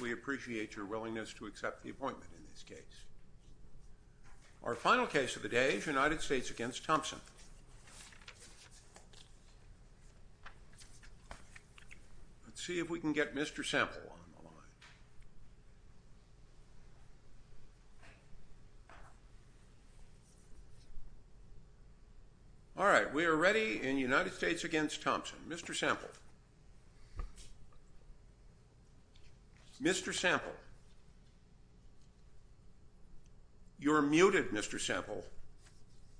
We appreciate your willingness to accept the appointment in this case. Our final case of the day is United States v. Thompson. Let's see if we can get Mr. Sample on the line. All right, we are ready in United States v. Thompson. Mr. Sample. Mr. Sample. You're muted, Mr. Sample.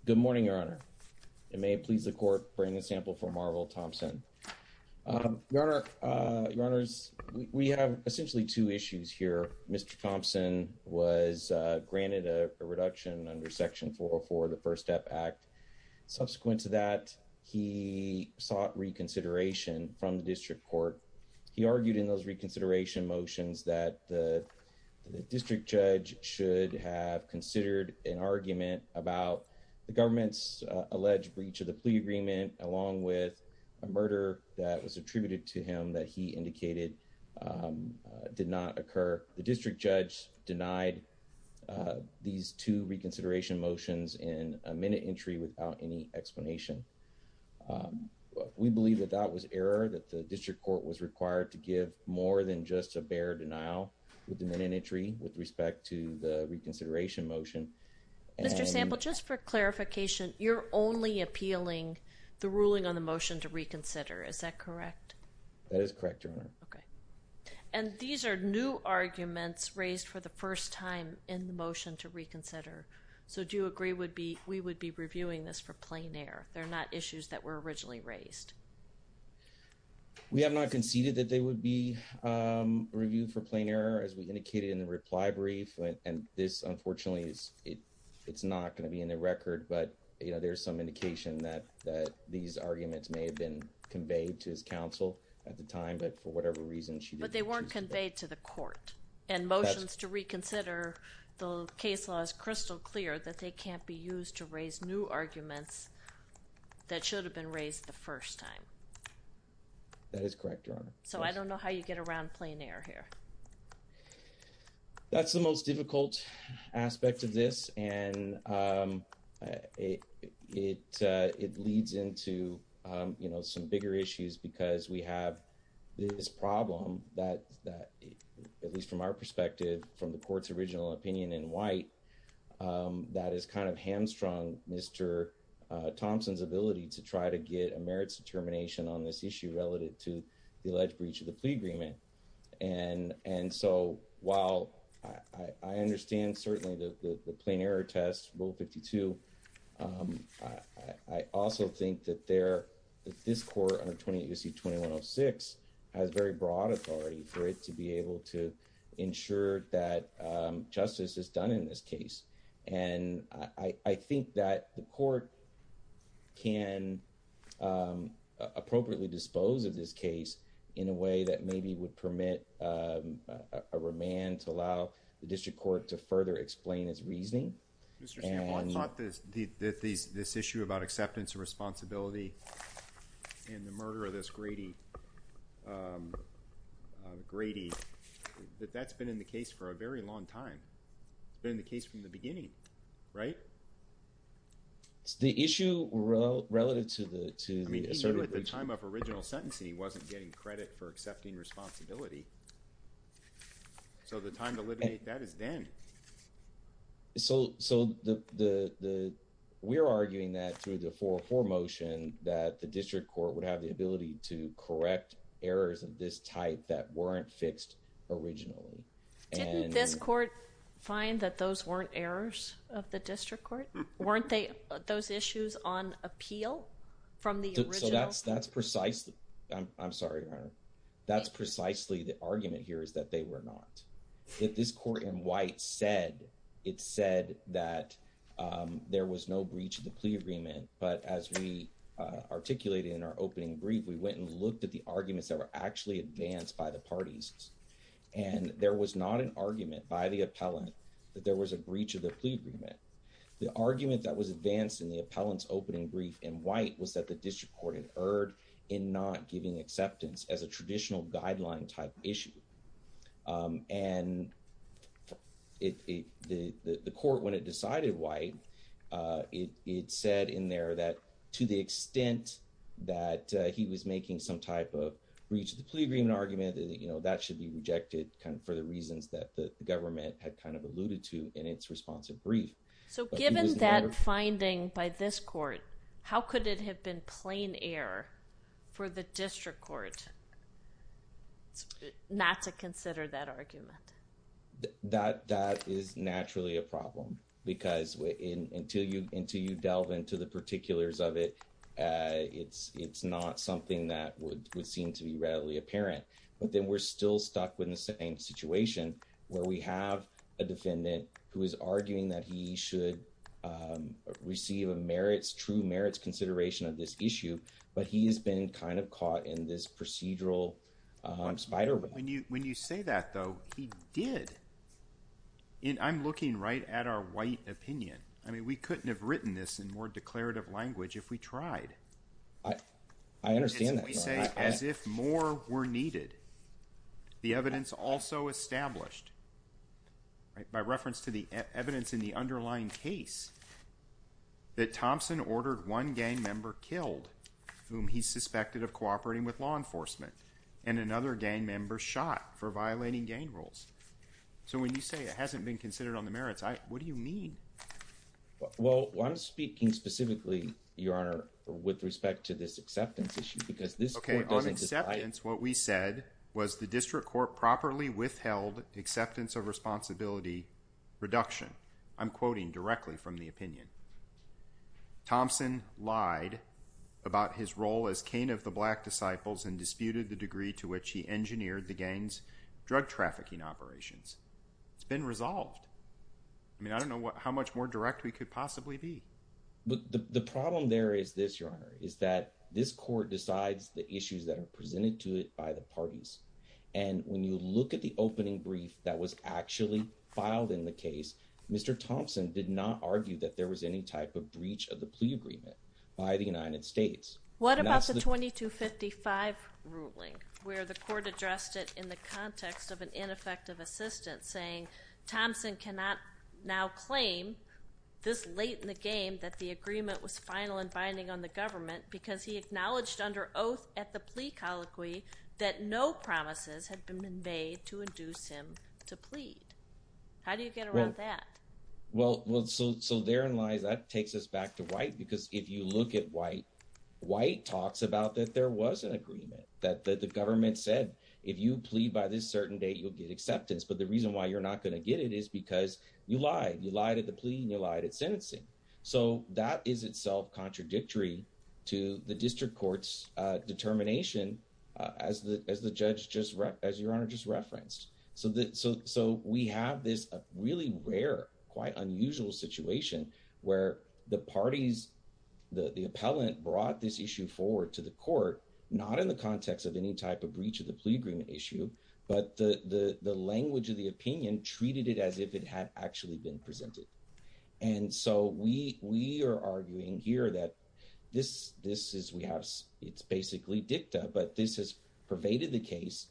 Good morning, Your Honor. It may please the Court to bring in Sample v. Marvel Thompson. Your Honor, we have essentially two issues here. Mr. Thompson was granted a reduction under Section 404 of the First Step Act. Subsequent to that, he sought reconsideration from the District Court. He argued in those reconsideration motions that the District Judge should have considered an argument about the government's alleged breach of the plea agreement, along with a murder that was attributed to him that he indicated did not occur. The District Judge denied these two reconsideration motions in a minute entry without any explanation. We believe that that was error, that the District Court was required to give more than just a bare denial with the minute entry with respect to the reconsideration motion. Mr. Sample, just for clarification, you're only appealing the ruling on the motion to reconsider. Is that correct? That is correct, Your Honor. And these are new arguments raised for the first time in the motion to reconsider. So do you agree we would be reviewing this for plain error? They're not issues that were originally raised. We have not conceded that they would be reviewed for plain error, as we indicated in the reply brief. And this, unfortunately, it's not going to be in the record, but there's some indication that these arguments may have been conveyed to his counsel at the time, but for whatever reason, she didn't choose them. And motions to reconsider the case law is crystal clear that they can't be used to raise new arguments that should have been raised the first time. That is correct, Your Honor. So I don't know how you get around plain error here. That's the most difficult aspect of this, and it leads into some bigger issues because we have this problem that, at least from our perspective, from the court's original opinion in white, that has kind of hamstrung Mr. Thompson's ability to try to get a merits determination on this issue relative to the alleged breach of the plea agreement. And so while I understand, certainly, the plain error test, Rule 52, I also think that this court under 28 U.C. 2106 has very broad authority for it to be able to ensure that justice is done in this case. And I think that the court can appropriately dispose of this case in a way that maybe would permit a remand to allow the district court to further explain its reasoning. Mr. San Juan thought that this issue about acceptance and responsibility in the murder of this Grady, that that's been in the case for a very long time. It's been in the case from the beginning, right? It's the issue relative to the asserted breach. I mean, even at the time of original sentencing, he wasn't getting credit for accepting responsibility. So the time to eliminate that is then. So we're arguing that through the 404 motion, that the district court would have the ability to correct errors of this type that weren't fixed originally. Didn't this court find that those weren't errors of the district court? Weren't those issues on appeal from the original? I'm sorry, Your Honor. That's precisely the argument here is that they were not. If this court in white said, it said that there was no breach of the plea agreement. But as we articulated in our opening brief, we went and looked at the arguments that were actually advanced by the parties. And there was not an argument by the appellant that there was a breach of the plea agreement. The argument that was advanced in the appellant's opening brief in white was that the district court had erred in not giving acceptance as a traditional guideline type issue. And the court, when it decided white, it said in there that to the extent that he was making some type of breach of the plea agreement argument, that should be rejected for the reasons that the government had kind of alluded to in its responsive brief. So given that finding by this court, how could it have been plain error for the district court not to consider that argument? That is naturally a problem because until you delve into the particulars of it, it's not something that would seem to be readily apparent. But then we're still stuck with the same situation where we have a defendant who is arguing that he should receive a merits, true merits consideration of this issue. But he has been kind of caught in this procedural spider web. When you say that, though, he did. And I'm looking right at our white opinion. I mean, we couldn't have written this in more declarative language if we tried. I understand that. But when you say as if more were needed, the evidence also established by reference to the evidence in the underlying case that Thompson ordered one gang member killed, whom he suspected of cooperating with law enforcement, and another gang member shot for violating gang rules. So when you say it hasn't been considered on the merits, what do you mean? Well, I'm speaking specifically, Your Honor, with respect to this acceptance issue because this court doesn't… Okay, on acceptance, what we said was the district court properly withheld acceptance of responsibility reduction. I'm quoting directly from the opinion. Thompson lied about his role as king of the black disciples and disputed the degree to which he engineered the gang's drug trafficking operations. It's been resolved. I mean, I don't know how much more direct we could possibly be. The problem there is this, Your Honor, is that this court decides the issues that are presented to it by the parties. And when you look at the opening brief that was actually filed in the case, Mr. Thompson did not argue that there was any type of breach of the plea agreement by the United States. What about the 2255 ruling where the court addressed it in the context of an ineffective assistant saying Thompson cannot now claim this late in the game that the agreement was final and binding on the government because he acknowledged under oath at the plea colloquy that no promises had been made to induce him to plead? How do you get around that? Well, so therein lies, that takes us back to White, because if you look at White, White talks about that there was an agreement that the government said, if you plead by this certain date, you'll get acceptance. But the reason why you're not going to get it is because you lied. You lied at the plea and you lied at sentencing. So that is itself contradictory to the district court's determination as the judge, as Your Honor just referenced. So we have this really rare, quite unusual situation where the parties, the appellant brought this issue forward to the court, not in the context of any type of breach of the plea agreement issue, but the language of the opinion treated it as if it had actually been presented. And so we are arguing here that this is, we have, it's basically dicta, but this has pervaded the case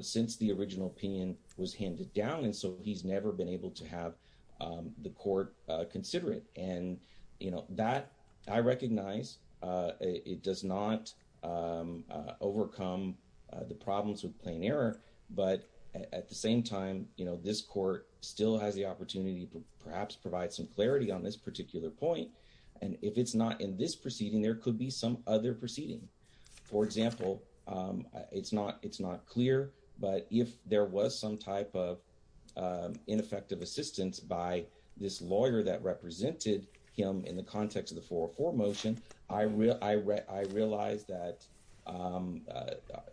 since the original opinion was handed down. And so he's never been able to have the court consider it. And, you know, that I recognize it does not overcome the problems with plain error, but at the same time, you know, this court still has the opportunity to perhaps provide some clarity on this particular point. And if it's not in this proceeding, there could be some other proceeding. For example, it's not, it's not clear, but if there was some type of ineffective assistance by this lawyer that represented him in the context of the 404 motion, I realize that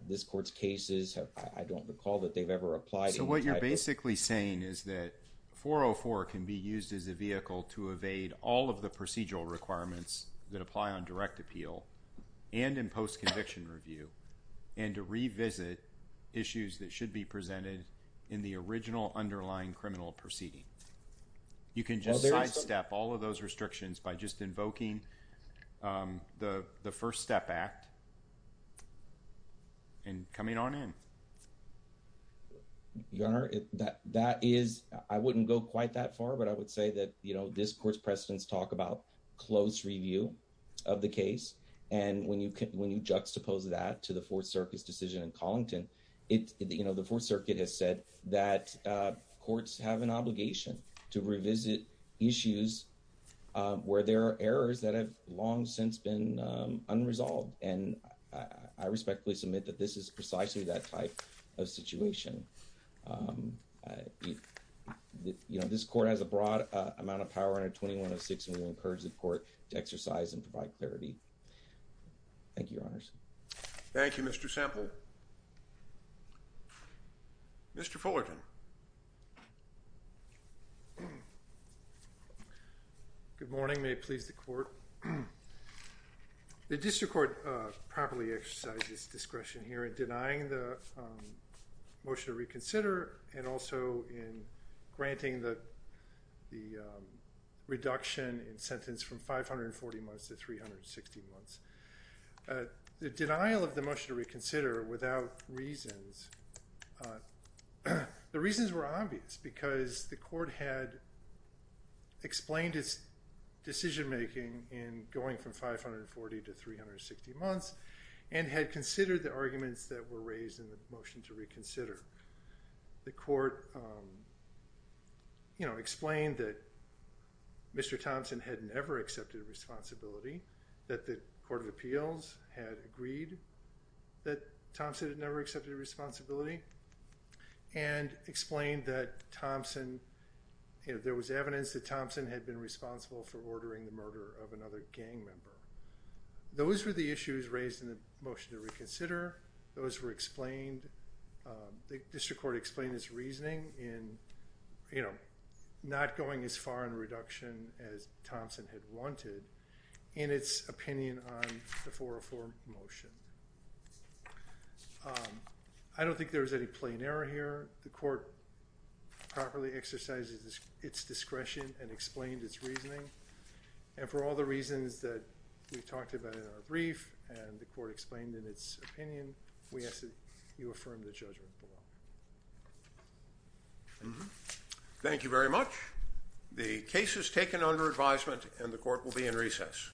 this court's cases have, I don't recall that they've ever applied. So what you're basically saying is that 404 can be used as a vehicle to evade all of the procedural requirements that apply on direct appeal and in post-conviction review and to revisit issues that should be presented in the original underlying criminal proceeding. You can just sidestep all of those restrictions by just invoking the First Step Act and coming on in. Your Honor, that is, I wouldn't go quite that far, but I would say that, you know, this court's precedents talk about close review of the case. And when you juxtapose that to the Fourth Circuit's decision in Collington, you know, the Fourth Circuit has said that courts have an obligation to revisit issues where there are errors that have long since been unresolved. And I respectfully submit that this is precisely that type of situation. You know, this court has a broad amount of power under 2106, and we encourage the court to exercise and provide clarity. Thank you, Your Honors. Thank you, Mr. Semple. Mr. Fullerton. Good morning. May it please the Court. The district court properly exercised its discretion here in denying the motion to reconsider and also in granting the reduction in sentence from 540 months to 360 months. The denial of the motion to reconsider without reasons, the reasons were obvious because the court had explained its decision-making in going from 540 to 360 months and had considered the arguments that were raised in the motion to reconsider. The court, you know, explained that Mr. Thompson had never accepted responsibility, that the Court of Appeals had agreed that Thompson had never accepted responsibility, and explained that Thompson, you know, there was evidence that Thompson had been responsible for ordering the murder of another gang member. Those were the issues raised in the motion to reconsider. Those were explained. The district court explained its reasoning in, you know, not going as far in reduction as Thompson had wanted in its opinion on the 404 motion. I don't think there was any plain error here. The court properly exercised its discretion and explained its reasoning. And for all the reasons that we talked about in our brief and the court explained in its opinion, we ask that you affirm the judgment below. Thank you very much. The case is taken under advisement and the court will be in recess.